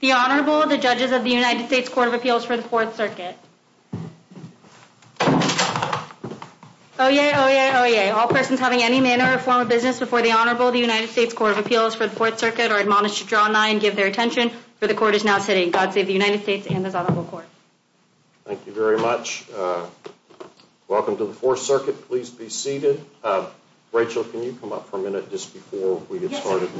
The Honorable, the Judges of the United States Court of Appeals for the Fourth Circuit. Oyez, Oyez, Oyez. All persons having any manner or form of business before the Honorable, the United States Court of Appeals for the Fourth Circuit are admonished to draw nigh and give their attention, for the Court is now sitting. God save the United States and this Honorable Court. Thank you very much. Welcome to the Fourth Circuit. Please be seated. Rachel, can you come up for a minute just before we get started?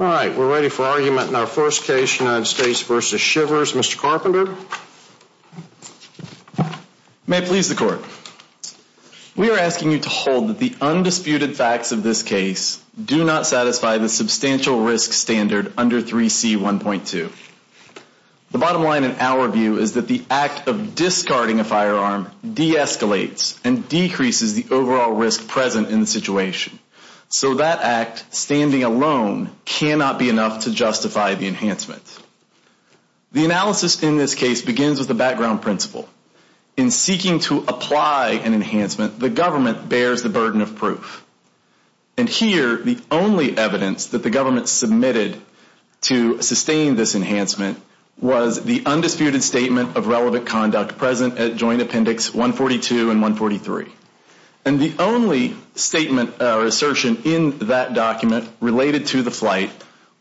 All right. We're ready for argument in our first case, United States v. Shivers. Mr. Carpenter? May it please the Court. We are asking you to hold that the undisputed facts of this case do not satisfy the substantial risk standard under 3C1.2. The bottom line in our view is that the act of discarding a firearm de-escalates and decreases the overall risk present in the situation. So that act, standing alone, cannot be enough to justify the enhancement. The analysis in this case begins with a background principle. In seeking to apply an enhancement, the government bears the burden of proof. And here, the only evidence that the government submitted to sustain this enhancement was the undisputed statement of relevant conduct present at Joint Appendix 142 and 143. And the only statement or assertion in that document related to the flight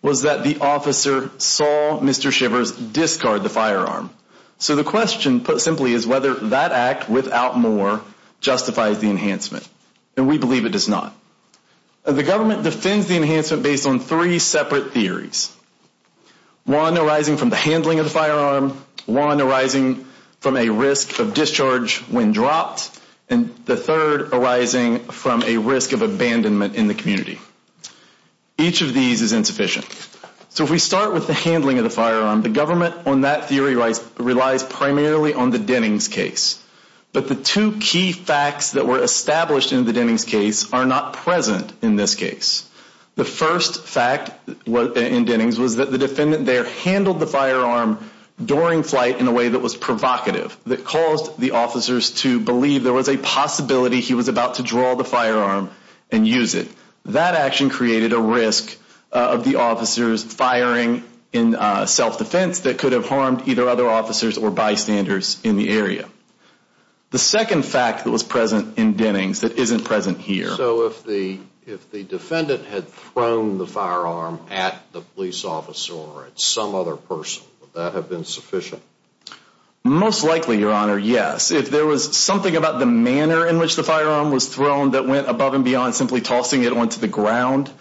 was that the officer saw Mr. Shivers discard the firearm. So the question, put simply, is whether that act, without more, justifies the enhancement. And we believe it does not. The government defends the enhancement based on three separate theories. One arising from the handling of the firearm. One arising from a risk of discharge when dropped. And the third arising from a risk of abandonment in the community. Each of these is insufficient. So if we start with the handling of the firearm, the government on that theory relies primarily on the Dennings case. But the two key facts that were established in the Dennings case are not present in this case. The first fact in Dennings was that the defendant there handled the firearm during flight in a way that was provocative. That caused the officers to believe there was a possibility he was about to draw the firearm and use it. That action created a risk of the officers firing in self-defense that could have harmed either other officers or bystanders in the area. The second fact that was present in Dennings that isn't present here. So if the defendant had thrown the firearm at the police officer or at some other person, would that have been sufficient? Most likely, Your Honor, yes. If there was something about the manner in which the firearm was thrown that went above and beyond simply tossing it onto the ground,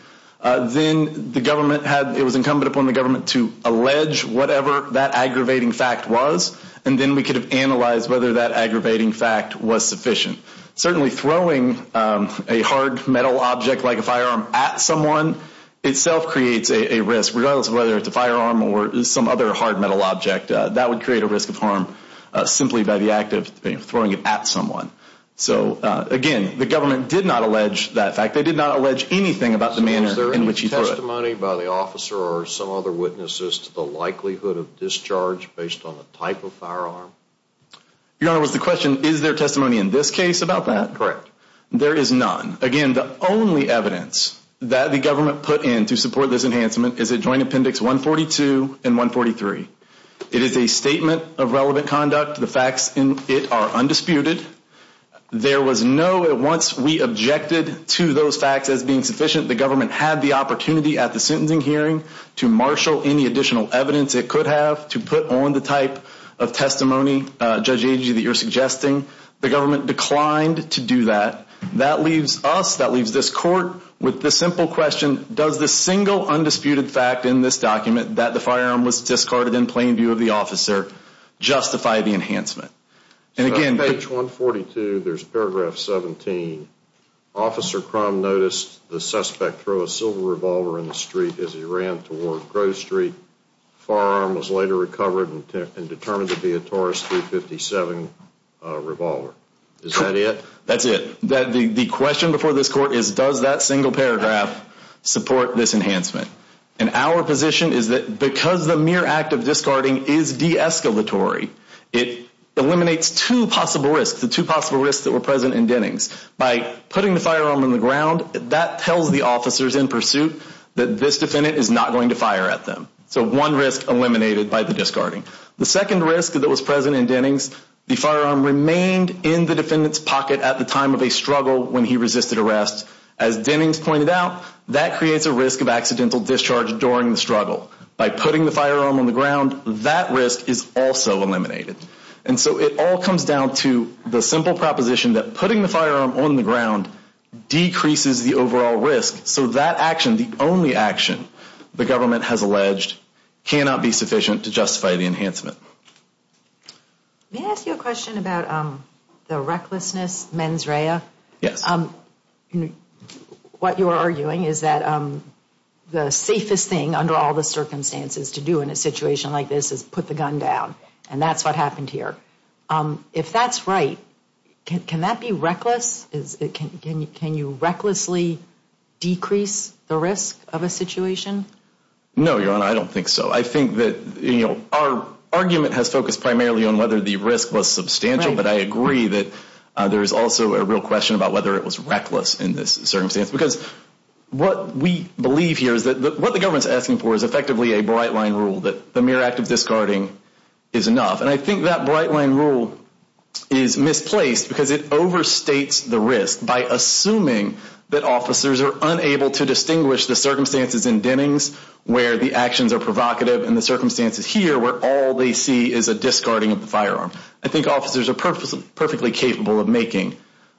then it was incumbent upon the government to allege whatever that aggravating fact was, and then we could have analyzed whether that aggravating fact was sufficient. Certainly throwing a hard metal object like a firearm at someone itself creates a risk, regardless of whether it's a firearm or some other hard metal object. That would create a risk of harm simply by the act of throwing it at someone. So again, the government did not allege that fact. They did not allege anything about the manner in which he threw it. Was there any testimony by the officer or some other witnesses to the likelihood of discharge based on the type of firearm? Your Honor, was the question, is there testimony in this case about that? Correct. There is none. Again, the only evidence that the government put in to support this enhancement is at Joint Appendix 142 and 143. It is a statement of relevant conduct. The facts in it are undisputed. There was no, once we objected to those facts as being sufficient, the government had the opportunity at the sentencing hearing to marshal any additional evidence it could have to put on the type of testimony, Judge Agee, that you're suggesting. The government declined to do that. That leaves us, that leaves this court with the simple question, does the single undisputed fact in this document that the firearm was discarded in plain view of the officer justify the enhancement? And again, page 142, there's paragraph 17. Officer Crum noticed the suspect throw a silver revolver in the street as he ran toward Grove Street. The firearm was later recovered and determined to be a Taurus .357 revolver. Is that it? That's it. The question before this court is, does that single paragraph support this enhancement? And our position is that because the mere act of discarding is de-escalatory, it eliminates two possible risks, the two possible risks that were present in Dennings. By putting the firearm on the ground, that tells the officers in pursuit that this defendant is not going to fire at them. So one risk eliminated by the discarding. The second risk that was present in Dennings, the firearm remained in the defendant's pocket at the time of a struggle when he resisted arrest. As Dennings pointed out, that creates a risk of accidental discharge during the struggle. By putting the firearm on the ground, that risk is also eliminated. And so it all comes down to the simple proposition that putting the firearm on the ground decreases the overall risk. So that action, the only action the government has alleged, cannot be sufficient to justify the enhancement. May I ask you a question about the recklessness mens rea? Yes. What you are arguing is that the safest thing under all the circumstances to do in a situation like this is put the gun down. And that's what happened here. If that's right, can that be reckless? Can you recklessly decrease the risk of a situation? No, Your Honor, I don't think so. I think that our argument has focused primarily on whether the risk was substantial. But I agree that there is also a real question about whether it was reckless in this circumstance. Because what we believe here is that what the government is asking for is effectively a bright line rule that the mere act of discarding is enough. And I think that bright line rule is misplaced because it overstates the risk by assuming that officers are unable to distinguish the circumstances in Dennings where the actions are provocative and the circumstances here where all they see is a discarding of the firearm. I think officers are perfectly capable of making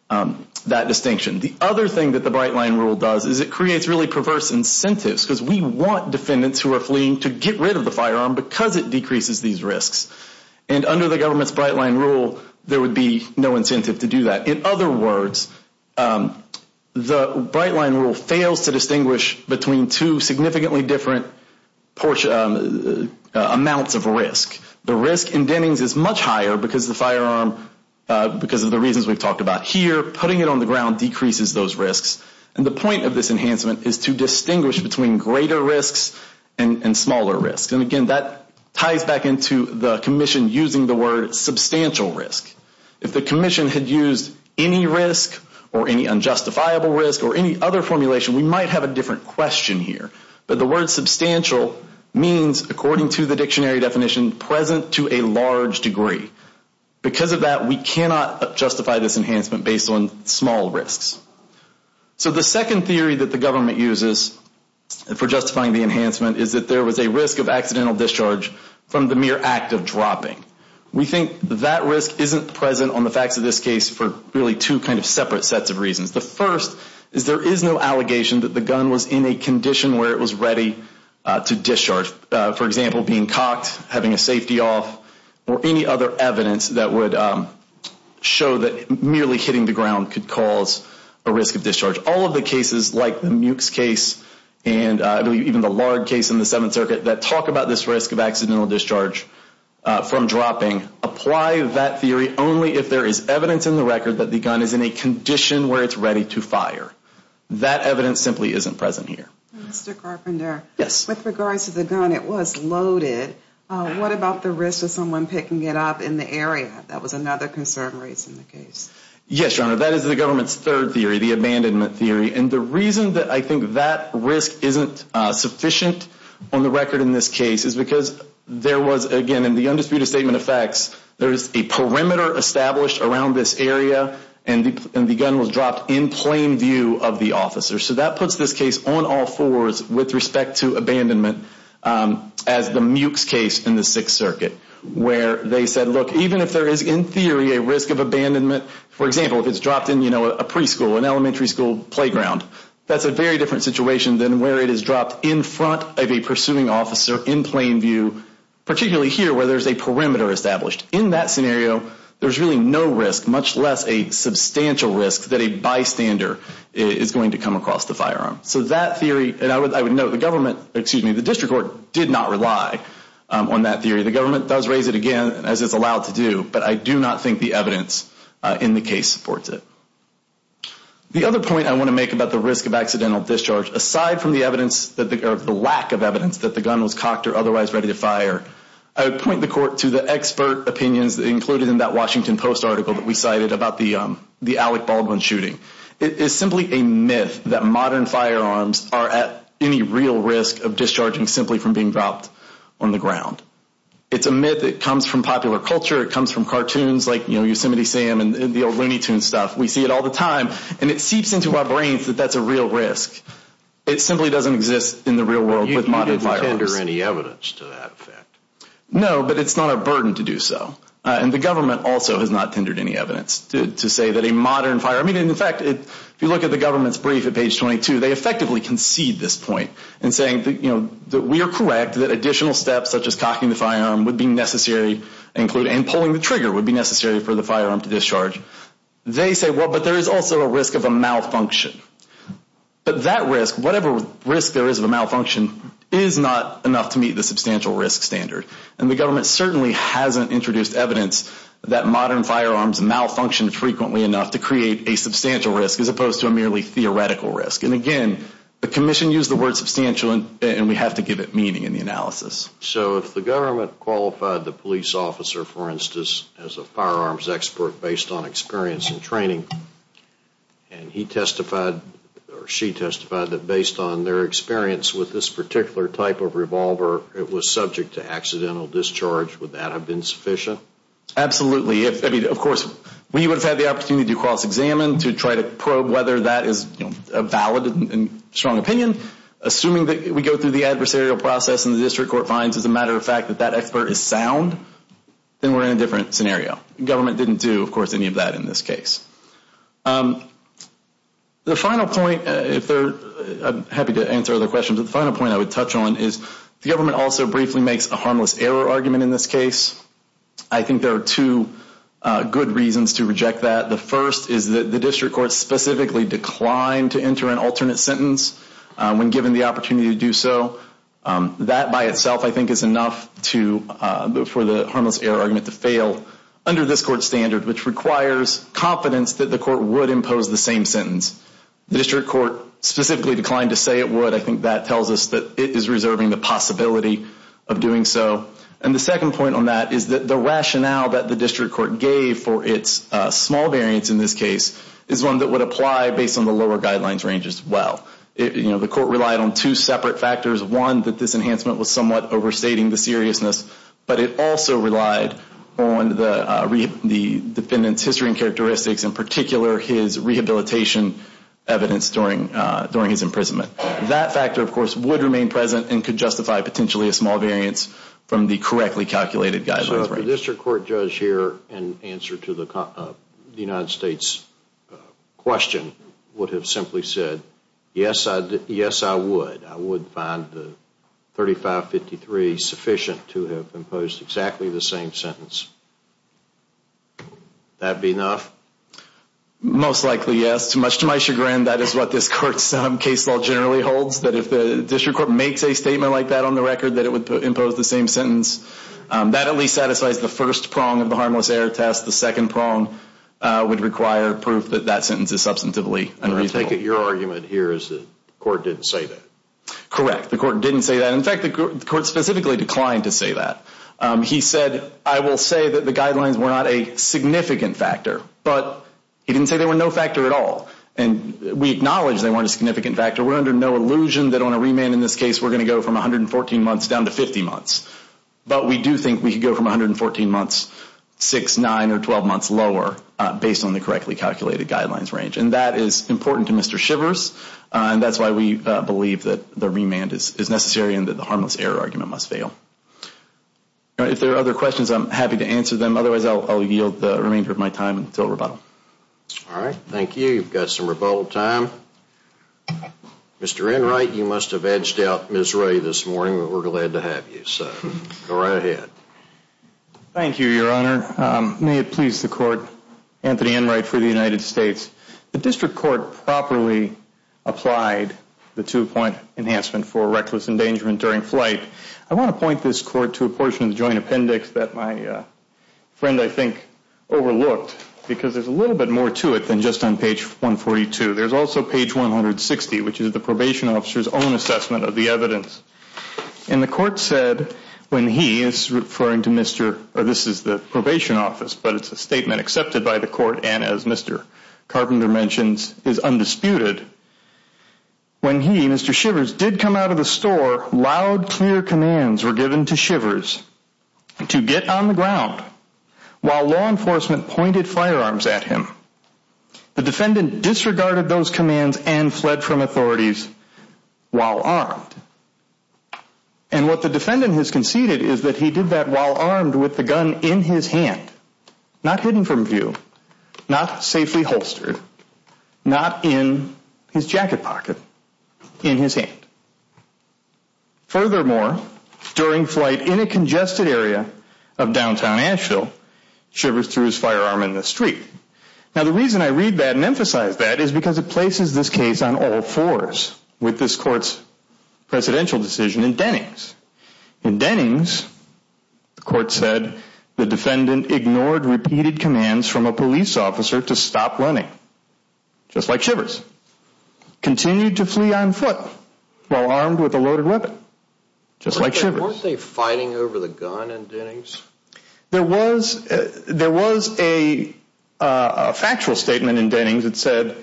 that distinction. The other thing that the bright line rule does is it creates really perverse incentives. Because we want defendants who are fleeing to get rid of the firearm because it decreases these risks. And under the government's bright line rule, there would be no incentive to do that. In other words, the bright line rule fails to distinguish between two significantly different amounts of risk. The risk in Dennings is much higher because of the reasons we've talked about here. Putting it on the ground decreases those risks. And the point of this enhancement is to distinguish between greater risks and smaller risks. And again, that ties back into the commission using the word substantial risk. If the commission had used any risk or any unjustifiable risk or any other formulation, we might have a different question here. But the word substantial means, according to the dictionary definition, present to a large degree. Because of that, we cannot justify this enhancement based on small risks. So the second theory that the government uses for justifying the enhancement is that there was a risk of accidental discharge from the mere act of dropping. We think that risk isn't present on the facts of this case for really two kind of separate sets of reasons. The first is there is no allegation that the gun was in a condition where it was ready to discharge. For example, being cocked, having a safety off, or any other evidence that would show that merely hitting the ground could cause a risk of discharge. All of the cases, like the Mukes case and even the Lard case in the Seventh Circuit, that talk about this risk of accidental discharge from dropping. Apply that theory only if there is evidence in the record that the gun is in a condition where it's ready to fire. That evidence simply isn't present here. Mr. Carpenter. Yes. With regards to the gun, it was loaded. What about the risk of someone picking it up in the area? That was another concern raised in the case. Yes, Your Honor. That is the government's third theory, the abandonment theory. And the reason that I think that risk isn't sufficient on the record in this case is because there was, again, the undisputed statement of facts, there is a perimeter established around this area, and the gun was dropped in plain view of the officer. So that puts this case on all fours with respect to abandonment as the Mukes case in the Sixth Circuit, where they said, look, even if there is, in theory, a risk of abandonment, for example, if it's dropped in a preschool, an elementary school playground, that's a very different situation than where it is dropped in front of a pursuing officer in plain view, particularly here where there's a perimeter established. In that scenario, there's really no risk, much less a substantial risk, that a bystander is going to come across the firearm. So that theory, and I would note the government, excuse me, the district court did not rely on that theory. The government does raise it again, as it's allowed to do, but I do not think the evidence in the case supports it. The other point I want to make about the risk of accidental discharge, aside from the evidence, the lack of evidence that the gun was cocked or otherwise ready to fire, I would point the court to the expert opinions included in that Washington Post article that we cited about the Alec Baldwin shooting. It is simply a myth that modern firearms are at any real risk of discharging simply from being dropped on the ground. It's a myth that comes from popular culture. It comes from cartoons like Yosemite Sam and the old Looney Tunes stuff. We see it all the time, and it seeps into our brains that that's a real risk. It simply doesn't exist in the real world with modern firearms. You didn't tender any evidence to that effect. No, but it's not a burden to do so. And the government also has not tendered any evidence to say that a modern firearm, and in fact, if you look at the government's brief at page 22, they effectively concede this point in saying that we are correct, that additional steps such as cocking the firearm would be necessary, and pulling the trigger would be necessary for the firearm to discharge. They say, well, but there is also a risk of a malfunction. But that risk, whatever risk there is of a malfunction, is not enough to meet the substantial risk standard. And the government certainly hasn't introduced evidence that modern firearms malfunction frequently enough to create a substantial risk as opposed to a merely theoretical risk. And again, the commission used the word substantial, and we have to give it meaning in the analysis. So if the government qualified the police officer, for instance, as a firearms expert based on experience and training, and he testified or she testified that based on their experience with this particular type of revolver, it was subject to accidental discharge, would that have been sufficient? Absolutely. I mean, of course, we would have had the opportunity to cross-examine, to try to probe whether that is a valid and strong opinion. Assuming that we go through the adversarial process and the district court finds, as a matter of fact, that that expert is sound, then we're in a different scenario. The government didn't do, of course, any of that in this case. The final point, I'm happy to answer other questions, but the final point I would touch on is the government also briefly makes a harmless error argument in this case. I think there are two good reasons to reject that. The first is that the district court specifically declined to enter an alternate sentence when given the opportunity to do so. That by itself, I think, is enough for the harmless error argument to fail under this court's standard, which requires confidence that the court would impose the same sentence. The district court specifically declined to say it would. I think that tells us that it is reserving the possibility of doing so. And the second point on that is that the rationale that the district court gave for its small variance in this case is one that would apply based on the lower guidelines range as well. The court relied on two separate factors. One, that this enhancement was somewhat overstating the seriousness, but it also relied on the defendant's history and characteristics, in particular his rehabilitation evidence during his imprisonment. That factor, of course, would remain present and could justify potentially a small variance from the correctly calculated guidelines range. I think the district court judge here, in answer to the United States question, would have simply said, yes, I would. I would find the 3553 sufficient to have imposed exactly the same sentence. Would that be enough? Most likely, yes. Much to my chagrin, that is what this court's case law generally holds, that if the district court makes a statement like that on the record, that it would impose the same sentence. That at least satisfies the first prong of the harmless error test. The second prong would require proof that that sentence is substantively unreasonable. Your argument here is that the court didn't say that. Correct. The court didn't say that. In fact, the court specifically declined to say that. He said, I will say that the guidelines were not a significant factor, but he didn't say they were no factor at all. And we acknowledge they weren't a significant factor. We're under no illusion that on a remand in this case, we're going to go from 114 months down to 50 months. But we do think we could go from 114 months 6, 9, or 12 months lower, based on the correctly calculated guidelines range. And that is important to Mr. Shivers, and that's why we believe that the remand is necessary and that the harmless error argument must fail. If there are other questions, I'm happy to answer them. Otherwise, I'll yield the remainder of my time until rebuttal. All right. Thank you. You've got some rebuttal time. Mr. Enright, you must have edged out Ms. Ray this morning, but we're glad to have you. Go right ahead. Thank you, Your Honor. May it please the Court, Anthony Enright for the United States. The district court properly applied the two-point enhancement for reckless endangerment during flight. I want to point this court to a portion of the joint appendix that my friend, I think, overlooked, because there's a little bit more to it than just on page 142. There's also page 160, which is the probation officer's own assessment of the evidence. And the court said when he is referring to Mr. This is the probation office, but it's a statement accepted by the court and, as Mr. Carpenter mentions, is undisputed. When he, Mr. Shivers, did come out of the store, loud, clear commands were given to Shivers to get on the ground while law enforcement pointed firearms at him. The defendant disregarded those commands and fled from authorities while armed. And what the defendant has conceded is that he did that while armed with the gun in his hand, not hidden from view, not safely holstered, not in his jacket pocket, in his hand. Furthermore, during flight in a congested area of downtown Asheville, Shivers threw his firearm in the street. Now, the reason I read that and emphasize that is because it places this case on all fours with this court's presidential decision in Dennings. In Dennings, the court said, the defendant ignored repeated commands from a police officer to stop running, just like Shivers, continued to flee on foot while armed with a loaded weapon, just like Shivers. Weren't they fighting over the gun in Dennings? There was a factual statement in Dennings that said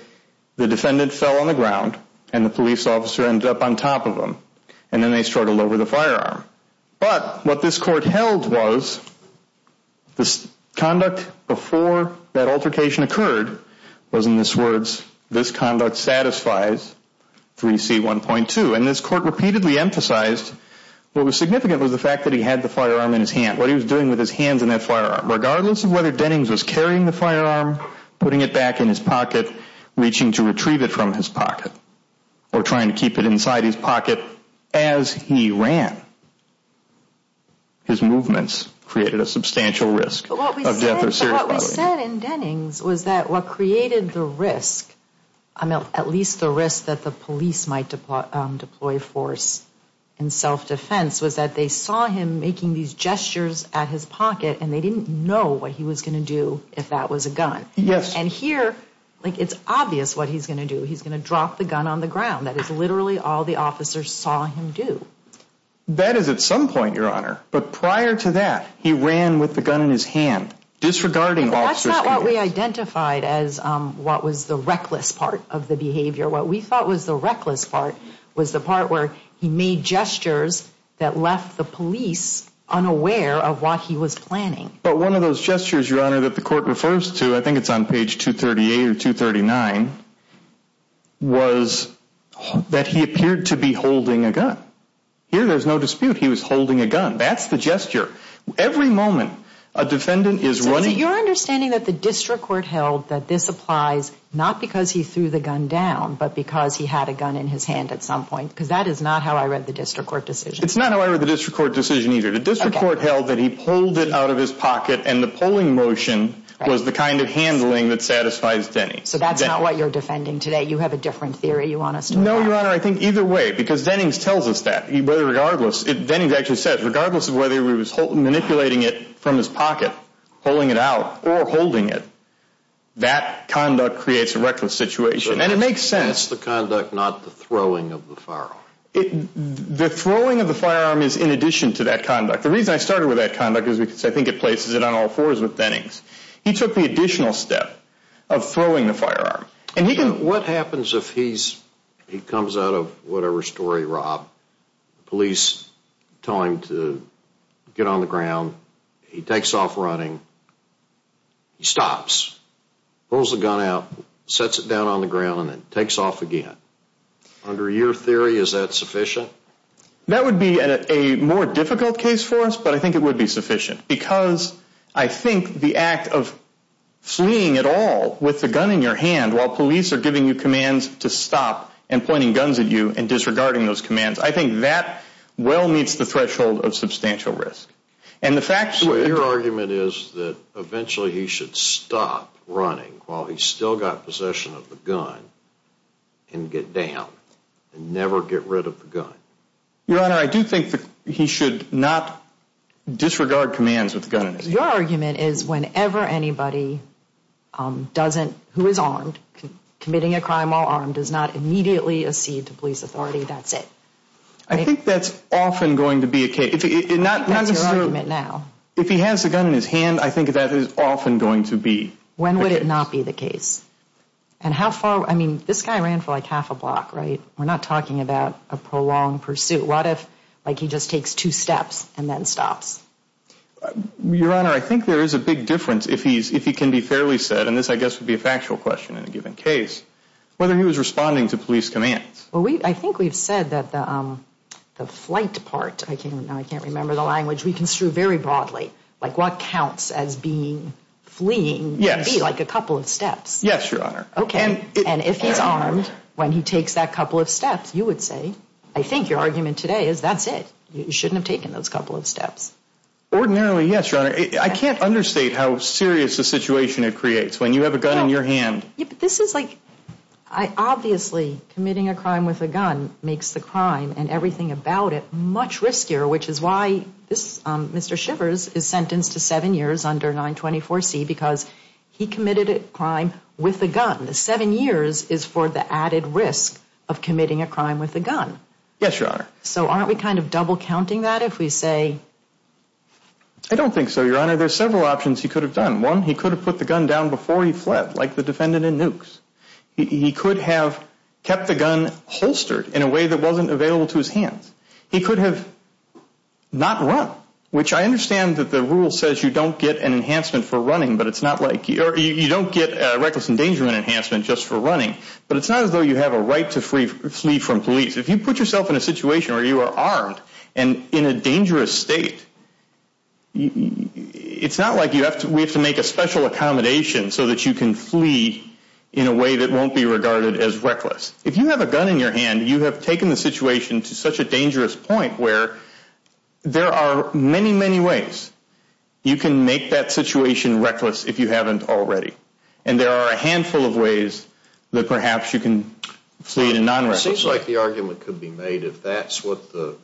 the defendant fell on the ground and the police officer ended up on top of him and then they struggled over the firearm. But what this court held was this conduct before that altercation occurred was in this words, this conduct satisfies 3C1.2. And this court repeatedly emphasized what was significant was the fact that he had the firearm in his hand. What he was doing with his hands and that firearm, regardless of whether Dennings was carrying the firearm, putting it back in his pocket, reaching to retrieve it from his pocket, or trying to keep it inside his pocket as he ran, his movements created a substantial risk of death or serious violence. What we said in Dennings was that what created the risk, at least the risk that the police might deploy force in self-defense, was that they saw him making these gestures at his pocket and they didn't know what he was going to do if that was a gun. Yes. And here, it's obvious what he's going to do. He's going to drop the gun on the ground. That is literally all the officers saw him do. That is at some point, Your Honor. But prior to that, he ran with the gun in his hand, disregarding officers' guidance. That's not what we identified as what was the reckless part of the behavior. What we thought was the reckless part was the part where he made gestures that left the police unaware of what he was planning. But one of those gestures, Your Honor, that the court refers to, I think it's on page 238 or 239, was that he appeared to be holding a gun. Here, there's no dispute. He was holding a gun. That's the gesture. Every moment a defendant is running. So you're understanding that the district court held that this applies not because he threw the gun down but because he had a gun in his hand at some point. Because that is not how I read the district court decision. It's not how I read the district court decision either. The district court held that he pulled it out of his pocket, and the pulling motion was the kind of handling that satisfies Denning. So that's not what you're defending today. You have a different theory you want us to look at. No, Your Honor. I think either way, because Denning tells us that. Regardless, Denning actually says, regardless of whether he was manipulating it from his pocket, pulling it out, or holding it, that conduct creates a reckless situation. And it makes sense. That's the conduct, not the throwing of the firearm. The throwing of the firearm is in addition to that conduct. The reason I started with that conduct is because I think it places it on all fours with Denning's. He took the additional step of throwing the firearm. What happens if he comes out of whatever story, Rob, police tell him to get on the ground, he takes off running, he stops, pulls the gun out, sets it down on the ground, and then takes off again? Under your theory, is that sufficient? That would be a more difficult case for us, but I think it would be sufficient. Because I think the act of fleeing at all with the gun in your hand while police are giving you commands to stop and pointing guns at you and disregarding those commands, I think that well meets the threshold of substantial risk. And the fact that... So your argument is that eventually he should stop running while he's still got possession of the gun and get down and never get rid of the gun? Your Honor, I do think that he should not disregard commands with the gun in his hand. Your argument is whenever anybody who is armed, committing a crime while armed, does not immediately accede to police authority, that's it. I think that's often going to be a case. That's your argument now. If he has the gun in his hand, I think that is often going to be. When would it not be the case? And how far, I mean, this guy ran for like half a block, right? We're not talking about a prolonged pursuit. What if, like, he just takes two steps and then stops? Your Honor, I think there is a big difference if he can be fairly said, and this I guess would be a factual question in a given case, whether he was responding to police commands. I think we've said that the flight part, I can't remember the language, we construe very broadly. Like what counts as being fleeing would be like a couple of steps. Yes, Your Honor. And if he's armed, when he takes that couple of steps, you would say, I think your argument today is that's it. You shouldn't have taken those couple of steps. Ordinarily, yes, Your Honor. I can't understate how serious a situation it creates when you have a gun in your hand. This is like, obviously committing a crime with a gun makes the crime and everything about it much riskier, which is why Mr. Shivers is sentenced to seven years under 924C because he committed a crime with a gun. Seven years is for the added risk of committing a crime with a gun. Yes, Your Honor. So aren't we kind of double counting that if we say? I don't think so, Your Honor. There are several options he could have done. One, he could have put the gun down before he fled, like the defendant in Nukes. He could have kept the gun holstered in a way that wasn't available to his hands. He could have not run, which I understand that the rule says you don't get an enhancement for running, but it's not like you don't get a reckless endangerment enhancement just for running. But it's not as though you have a right to flee from police. If you put yourself in a situation where you are armed and in a dangerous state, it's not like we have to make a special accommodation so that you can flee in a way that won't be regarded as reckless. If you have a gun in your hand, you have taken the situation to such a dangerous point where there are many, many ways you can make that situation reckless if you haven't already. And there are a handful of ways that perhaps you can flee in a non-reckless way. It seems like the argument could be made if that's what the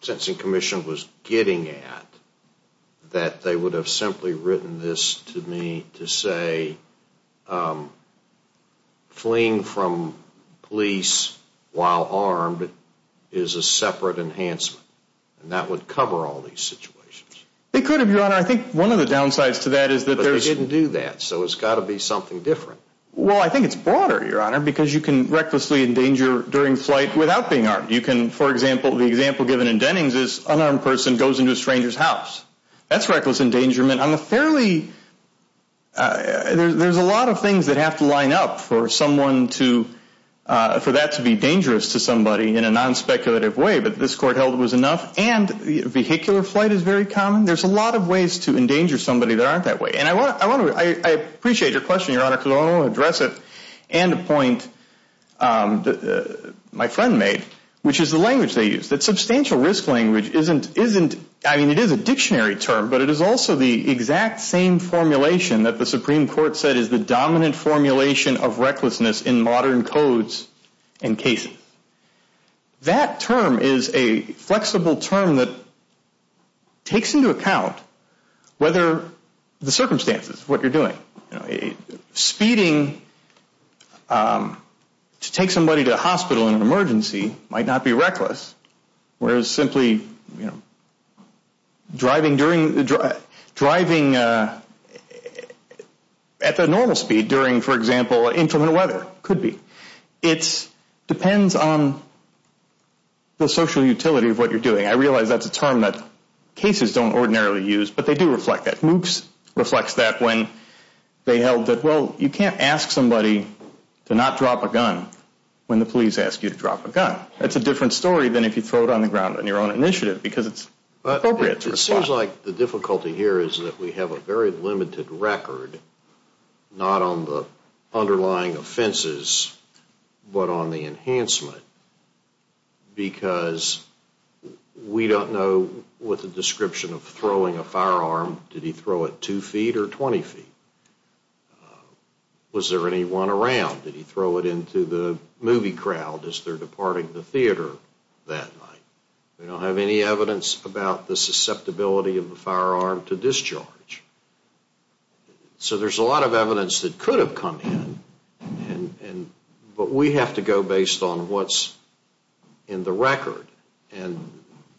Sentencing Commission was getting at, that they would have simply written this to me to say fleeing from police while armed is a separate enhancement, and that would cover all these situations. It could have, Your Honor. I think one of the downsides to that is that there's... But they didn't do that, so it's got to be something different. Well, I think it's broader, Your Honor, because you can recklessly endanger during flight without being armed. You can, for example, the example given in Dennings is an unarmed person goes into a stranger's house. That's reckless endangerment. There's a lot of things that have to line up for that to be dangerous to somebody in a non-speculative way, but this court held it was enough. And vehicular flight is very common. There's a lot of ways to endanger somebody that aren't that way. And I appreciate your question, Your Honor, and a point my friend made, which is the language they use. That substantial risk language isn't... I mean, it is a dictionary term, but it is also the exact same formulation that the Supreme Court said is the dominant formulation of recklessness in modern codes and cases. That term is a flexible term that takes into account whether the circumstances, what you're doing. Speeding to take somebody to a hospital in an emergency might not be reckless, whereas simply driving at the normal speed during, for example, intermittent weather could be. It depends on the social utility of what you're doing. I realize that's a term that cases don't ordinarily use, but they do reflect that. And I think Moots reflects that when they held that, well, you can't ask somebody to not drop a gun when the police ask you to drop a gun. That's a different story than if you throw it on the ground on your own initiative because it's appropriate to respond. It seems like the difficulty here is that we have a very limited record, not on the underlying offenses, but on the enhancement, because we don't know with the description of throwing a firearm, did he throw it two feet or 20 feet? Was there any one around? Did he throw it into the movie crowd as they're departing the theater that night? We don't have any evidence about the susceptibility of the firearm to discharge. So there's a lot of evidence that could have come in, but we have to go based on what's in the record. And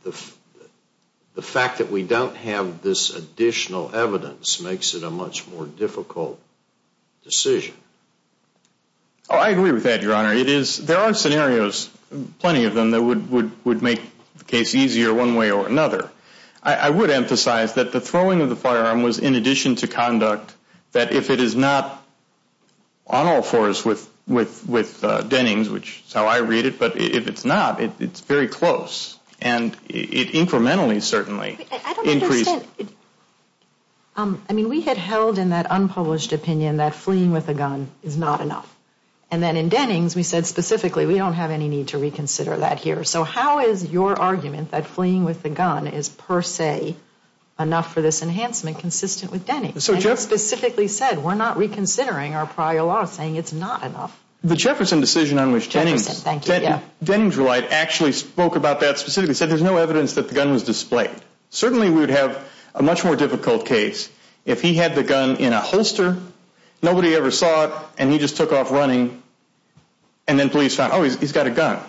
the fact that we don't have this additional evidence makes it a much more difficult decision. I agree with that, Your Honor. There are scenarios, plenty of them, that would make the case easier one way or another. I would emphasize that the throwing of the firearm was in addition to conduct, that if it is not on all fours with Dennings, which is how I read it, but if it's not, it's very close, and it incrementally certainly increased. I don't understand. I mean, we had held in that unpublished opinion that fleeing with a gun is not enough, and then in Dennings we said specifically we don't have any need to reconsider that here. So how is your argument that fleeing with a gun is per se enough for this enhancement consistent with Dennings? And you specifically said we're not reconsidering our prior law saying it's not enough. The Jefferson decision on which Dennings relied actually spoke about that, specifically said there's no evidence that the gun was displayed. Certainly we would have a much more difficult case if he had the gun in a holster, nobody ever saw it, and he just took off running, and then police found, oh, he's got a gun.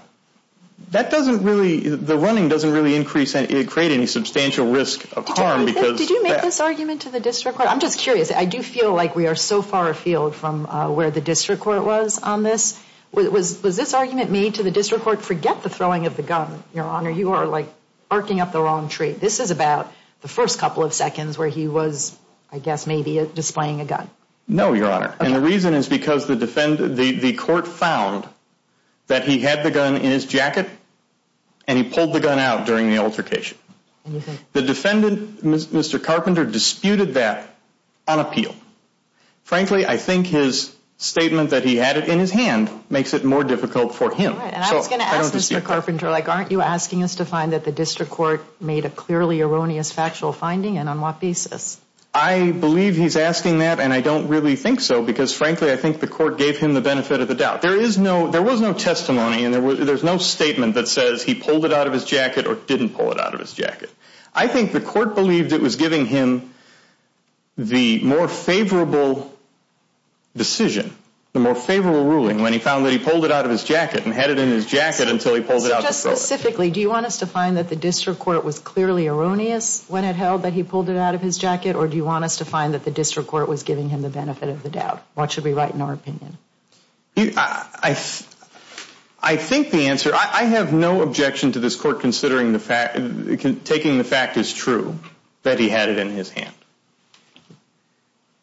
That doesn't really, the running doesn't really increase, create any substantial risk of harm. Did you make this argument to the district court? I'm just curious. I do feel like we are so far afield from where the district court was on this. Was this argument made to the district court, forget the throwing of the gun, Your Honor, you are like barking up the wrong tree. This is about the first couple of seconds where he was, I guess, maybe displaying a gun. No, Your Honor, and the reason is because the court found that he had the gun in his jacket, and he pulled the gun out during the altercation. The defendant, Mr. Carpenter, disputed that on appeal. Frankly, I think his statement that he had it in his hand makes it more difficult for him. I was going to ask Mr. Carpenter, like, aren't you asking us to find that the district court made a clearly erroneous factual finding, and on what basis? I believe he's asking that, and I don't really think so, because frankly I think the court gave him the benefit of the doubt. There is no, there was no testimony, and there's no statement that says he pulled it out of his jacket or didn't pull it out of his jacket. I think the court believed it was giving him the more favorable decision, the more favorable ruling when he found that he pulled it out of his jacket and had it in his jacket until he pulled it out of his jacket. So just specifically, do you want us to find that the district court was clearly erroneous when it held that he pulled it out of his jacket, or do you want us to find that the district court was giving him the benefit of the doubt? What should be right in our opinion? I think the answer, I have no objection to this court considering the fact, taking the fact as true, that he had it in his hand.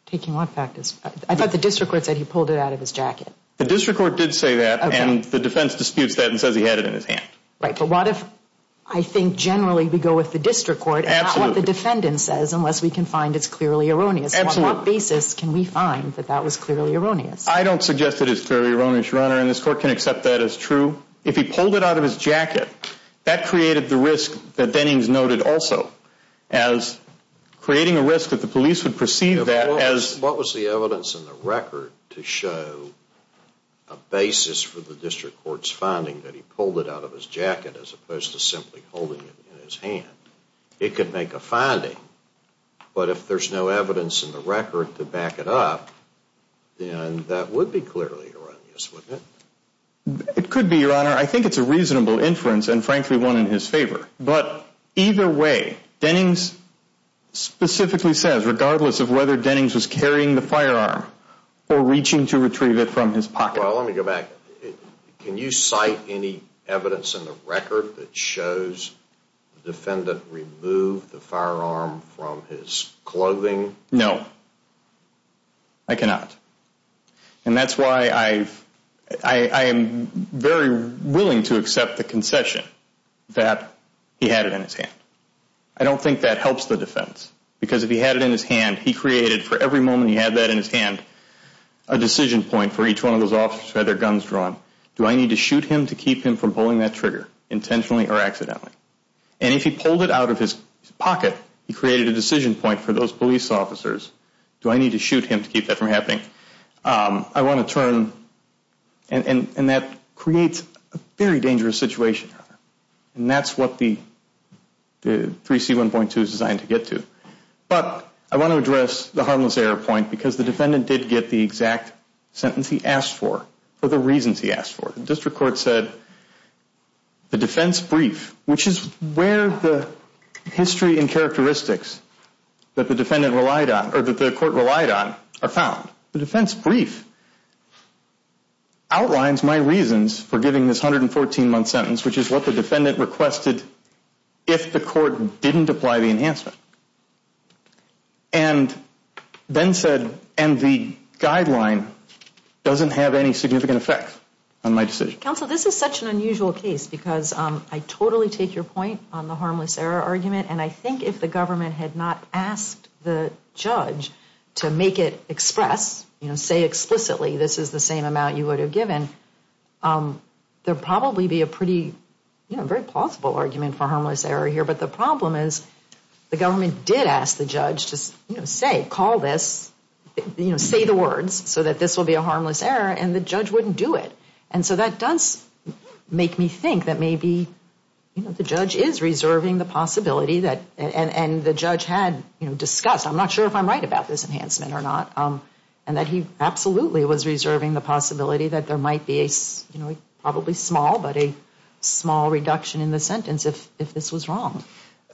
Taking what fact as true? I thought the district court said he pulled it out of his jacket. The district court did say that, and the defense disputes that and says he had it in his hand. Right, but what if, I think generally we go with the district court, and not what the defendant says, unless we can find it's clearly erroneous. On what basis can we find that that was clearly erroneous? I don't suggest that it's clearly erroneous, Your Honor, and this court can accept that as true. If he pulled it out of his jacket, that created the risk that Dennings noted also, as creating a risk that the police would perceive that as... What was the evidence in the record to show a basis for the district court's finding that he pulled it out of his jacket as opposed to simply holding it in his hand? It could make a finding, but if there's no evidence in the record to back it up, then that would be clearly erroneous, wouldn't it? It could be, Your Honor. I think it's a reasonable inference, and frankly, one in his favor. But either way, Dennings specifically says, regardless of whether Dennings was carrying the firearm or reaching to retrieve it from his pocket. Well, let me go back. Can you cite any evidence in the record that shows the defendant removed the firearm from his clothing? No. I cannot. And that's why I am very willing to accept the concession that he had it in his hand. I don't think that helps the defense, because if he had it in his hand, he created, for every moment he had that in his hand, a decision point for each one of those officers who had their guns drawn. Do I need to shoot him to keep him from pulling that trigger, intentionally or accidentally? And if he pulled it out of his pocket, he created a decision point for those police officers. Do I need to shoot him to keep that from happening? I want to turn, and that creates a very dangerous situation, and that's what the 3C1.2 is designed to get to. But I want to address the harmless error point, because the defendant did get the exact sentence he asked for, for the reasons he asked for. The district court said the defense brief, which is where the history and characteristics that the defendant relied on, or that the court relied on, are found. The defense brief outlines my reasons for giving this 114-month sentence, which is what the defendant requested if the court didn't apply the enhancement. And then said, and the guideline doesn't have any significant effect on my decision. Counsel, this is such an unusual case, because I totally take your point on the harmless error argument, and I think if the government had not asked the judge to make it express, you know, say explicitly this is the same amount you would have given, there would probably be a pretty, you know, very plausible argument for harmless error here. But the problem is the government did ask the judge to, you know, say, call this, you know, say the words, so that this will be a harmless error, and the judge wouldn't do it. And so that does make me think that maybe, you know, the judge is reserving the possibility that, and the judge had, you know, discussed, I'm not sure if I'm right about this enhancement or not, and that he absolutely was reserving the possibility that there might be a, you know, probably small, but a small reduction in the sentence if this was wrong.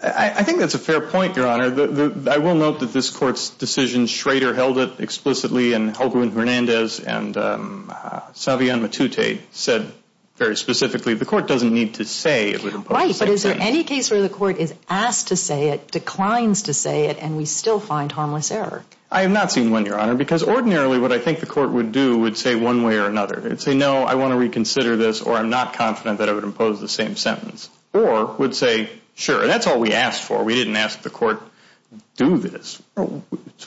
I think that's a fair point, Your Honor. I will note that this Court's decision, Schrader held it explicitly, and Holguin-Hernandez and Savion Matute said very specifically, the Court doesn't need to say it would impose the same thing. Right, but is there any case where the Court is asked to say it, declines to say it, and we still find harmless error? I have not seen one, Your Honor, because ordinarily what I think the Court would do would say one way or another. It would say, no, I want to reconsider this, or I'm not confident that it would impose the same sentence, or would say, sure, that's all we asked for. We didn't ask the Court to do this.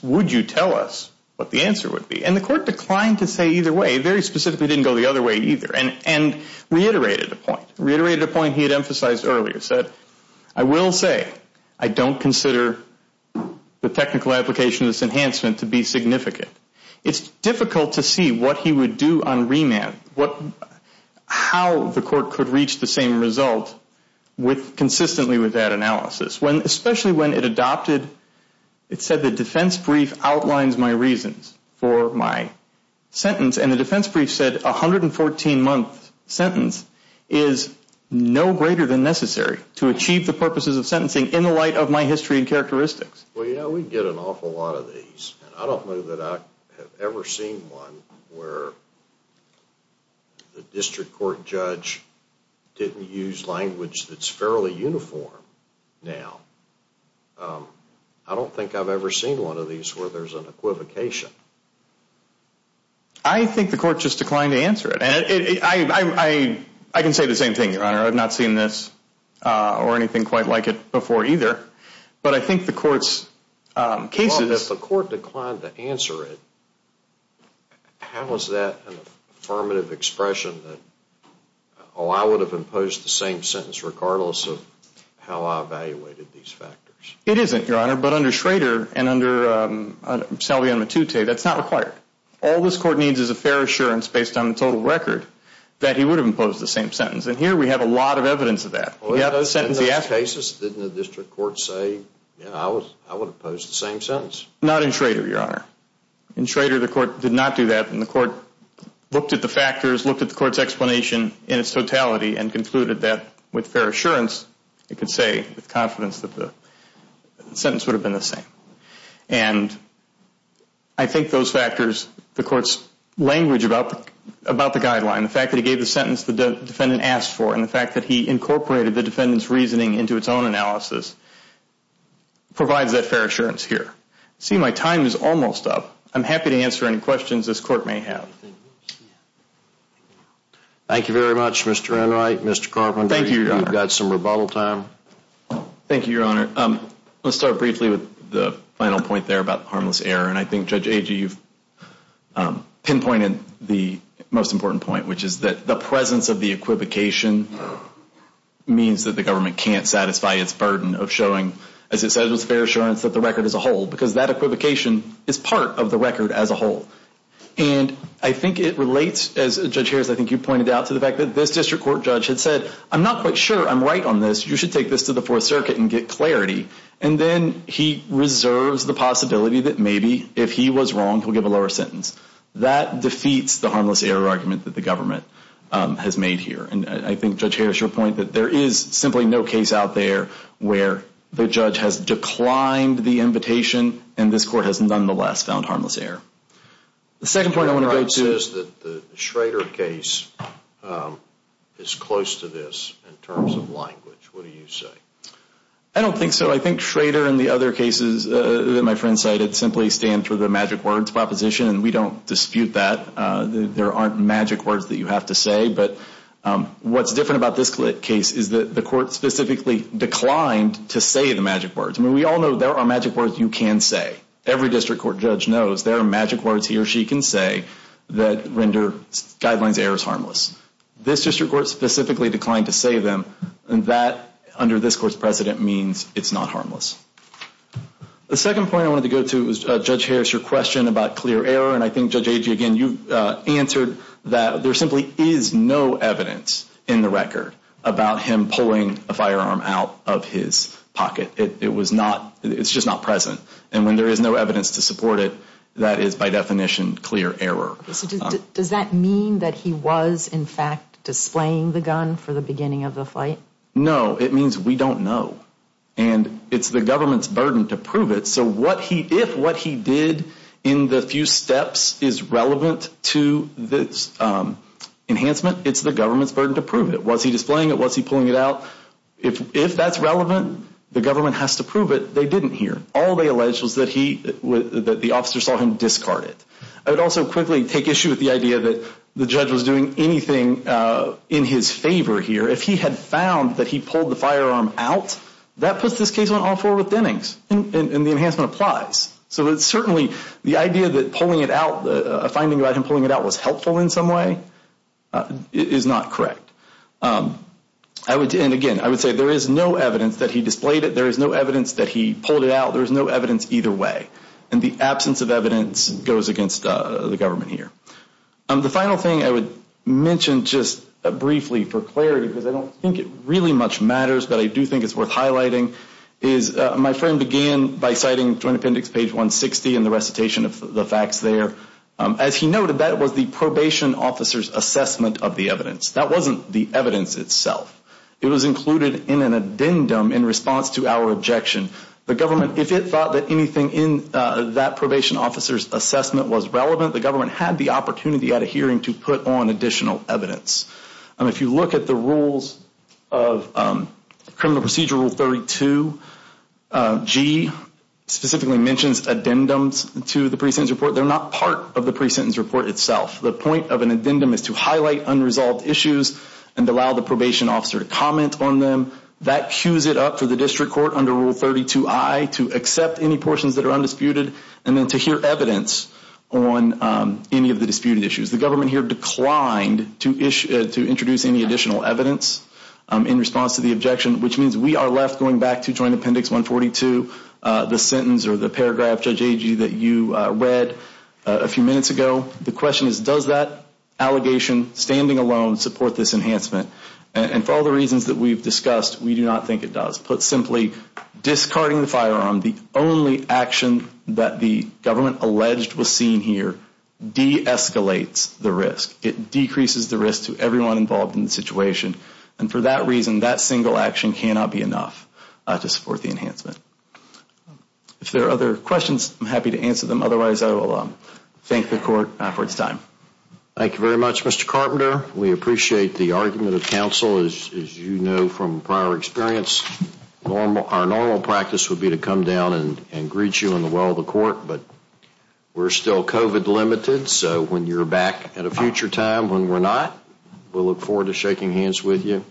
Would you tell us what the answer would be? And the Court declined to say either way. It very specifically didn't go the other way either, and reiterated a point. It reiterated a point he had emphasized earlier. He said, I will say I don't consider the technical application of this enhancement to be significant. It's difficult to see what he would do on remand, how the Court could reach the same result consistently with that analysis. Especially when it adopted, it said the defense brief outlines my reasons for my sentence, and the defense brief said a 114-month sentence is no greater than necessary to achieve the purposes of sentencing in the light of my history and characteristics. Well, yeah, we get an awful lot of these. I don't know that I have ever seen one where the district court judge didn't use language that's fairly uniform now. I don't think I've ever seen one of these where there's an equivocation. I think the Court just declined to answer it. I can say the same thing, Your Honor. I've not seen this or anything quite like it before either. But I think the Court's cases... Well, if the Court declined to answer it, how is that an affirmative expression that, oh, I would have imposed the same sentence regardless of how I evaluated these factors? It isn't, Your Honor. But under Schrader and under Salveon Matute, that's not required. All this Court needs is a fair assurance based on the total record that he would have imposed the same sentence. And here we have a lot of evidence of that. In those cases, didn't the district court say, you know, I would impose the same sentence? Not in Schrader, Your Honor. In Schrader, the Court did not do that. And the Court looked at the factors, looked at the Court's explanation in its totality and concluded that with fair assurance it could say with confidence that the sentence would have been the same. And I think those factors, the Court's language about the guideline, the fact that he gave the sentence the defendant asked for, and the fact that he incorporated the defendant's reasoning into its own analysis, provides that fair assurance here. See, my time is almost up. I'm happy to answer any questions this Court may have. Thank you very much, Mr. Enright. Mr. Carpenter, you've got some rebuttal time. Thank you, Your Honor. Let's start briefly with the final point there about harmless error. And I think, Judge Agee, you've pinpointed the most important point, which is that the presence of the equivocation means that the government can't satisfy its burden of showing, as it says, with fair assurance that the record is a whole, because that equivocation is part of the record as a whole. And I think it relates, as Judge Harris, I think you pointed out, to the fact that this district court judge had said, I'm not quite sure I'm right on this. You should take this to the Fourth Circuit and get clarity. And then he reserves the possibility that maybe if he was wrong, he'll give a lower sentence. That defeats the harmless error argument that the government has made here. And I think, Judge Harris, your point that there is simply no case out there where the judge has declined the invitation and this Court has nonetheless found harmless error. The second point I want to go to is that the Schrader case is close to this in terms of language. What do you say? I don't think so. I think Schrader and the other cases that my friend cited simply stand for the magic words proposition, and we don't dispute that. There aren't magic words that you have to say. But what's different about this case is that the Court specifically declined to say the magic words. I mean, we all know there are magic words you can say. Every district court judge knows there are magic words he or she can say that render guidelines errors harmless. This district court specifically declined to say them, and that under this Court's precedent means it's not harmless. The second point I wanted to go to is, Judge Harris, your question about clear error, and I think, Judge Agee, again, you answered that there simply is no evidence in the record about him pulling a firearm out of his pocket. It was not, it's just not present. And when there is no evidence to support it, that is by definition clear error. Does that mean that he was, in fact, displaying the gun for the beginning of the fight? No, it means we don't know. And it's the government's burden to prove it. So if what he did in the few steps is relevant to this enhancement, it's the government's burden to prove it. Was he displaying it? Was he pulling it out? If that's relevant, the government has to prove it. They didn't here. All they alleged was that the officer saw him discard it. I would also quickly take issue with the idea that the judge was doing anything in his favor here. If he had found that he pulled the firearm out, that puts this case on all four with Dennings, and the enhancement applies. So it's certainly the idea that pulling it out, a finding about him pulling it out was helpful in some way, is not correct. And again, I would say there is no evidence that he displayed it. There is no evidence that he pulled it out. There is no evidence either way. And the absence of evidence goes against the government here. The final thing I would mention just briefly for clarity, because I don't think it really much matters but I do think it's worth highlighting, is my friend began by citing Joint Appendix page 160 and the recitation of the facts there. As he noted, that was the probation officer's assessment of the evidence. That wasn't the evidence itself. It was included in an addendum in response to our objection. The government, if it thought that anything in that probation officer's assessment was relevant, the government had the opportunity at a hearing to put on additional evidence. And if you look at the rules of Criminal Procedure Rule 32, G specifically mentions addendums to the pre-sentence report. They're not part of the pre-sentence report itself. The point of an addendum is to highlight unresolved issues and allow the probation officer to comment on them. That queues it up for the district court under Rule 32I to accept any portions that are undisputed and then to hear evidence on any of the disputed issues. The government here declined to introduce any additional evidence in response to the objection, which means we are left going back to Joint Appendix 142, the sentence or the paragraph, Judge Agee, that you read a few minutes ago. The question is, does that allegation standing alone support this enhancement? And for all the reasons that we've discussed, we do not think it does. Put simply, discarding the firearm, the only action that the government alleged was seen here, de-escalates the risk. It decreases the risk to everyone involved in the situation. And for that reason, that single action cannot be enough to support the enhancement. If there are other questions, I'm happy to answer them. Otherwise, I will thank the court for its time. Thank you very much, Mr. Carpenter. We appreciate the argument of counsel, as you know from prior experience. Our normal practice would be to come down and greet you in the well of the court, but we're still COVID-limited, so when you're back at a future time when we're not, we'll look forward to shaking hands with you.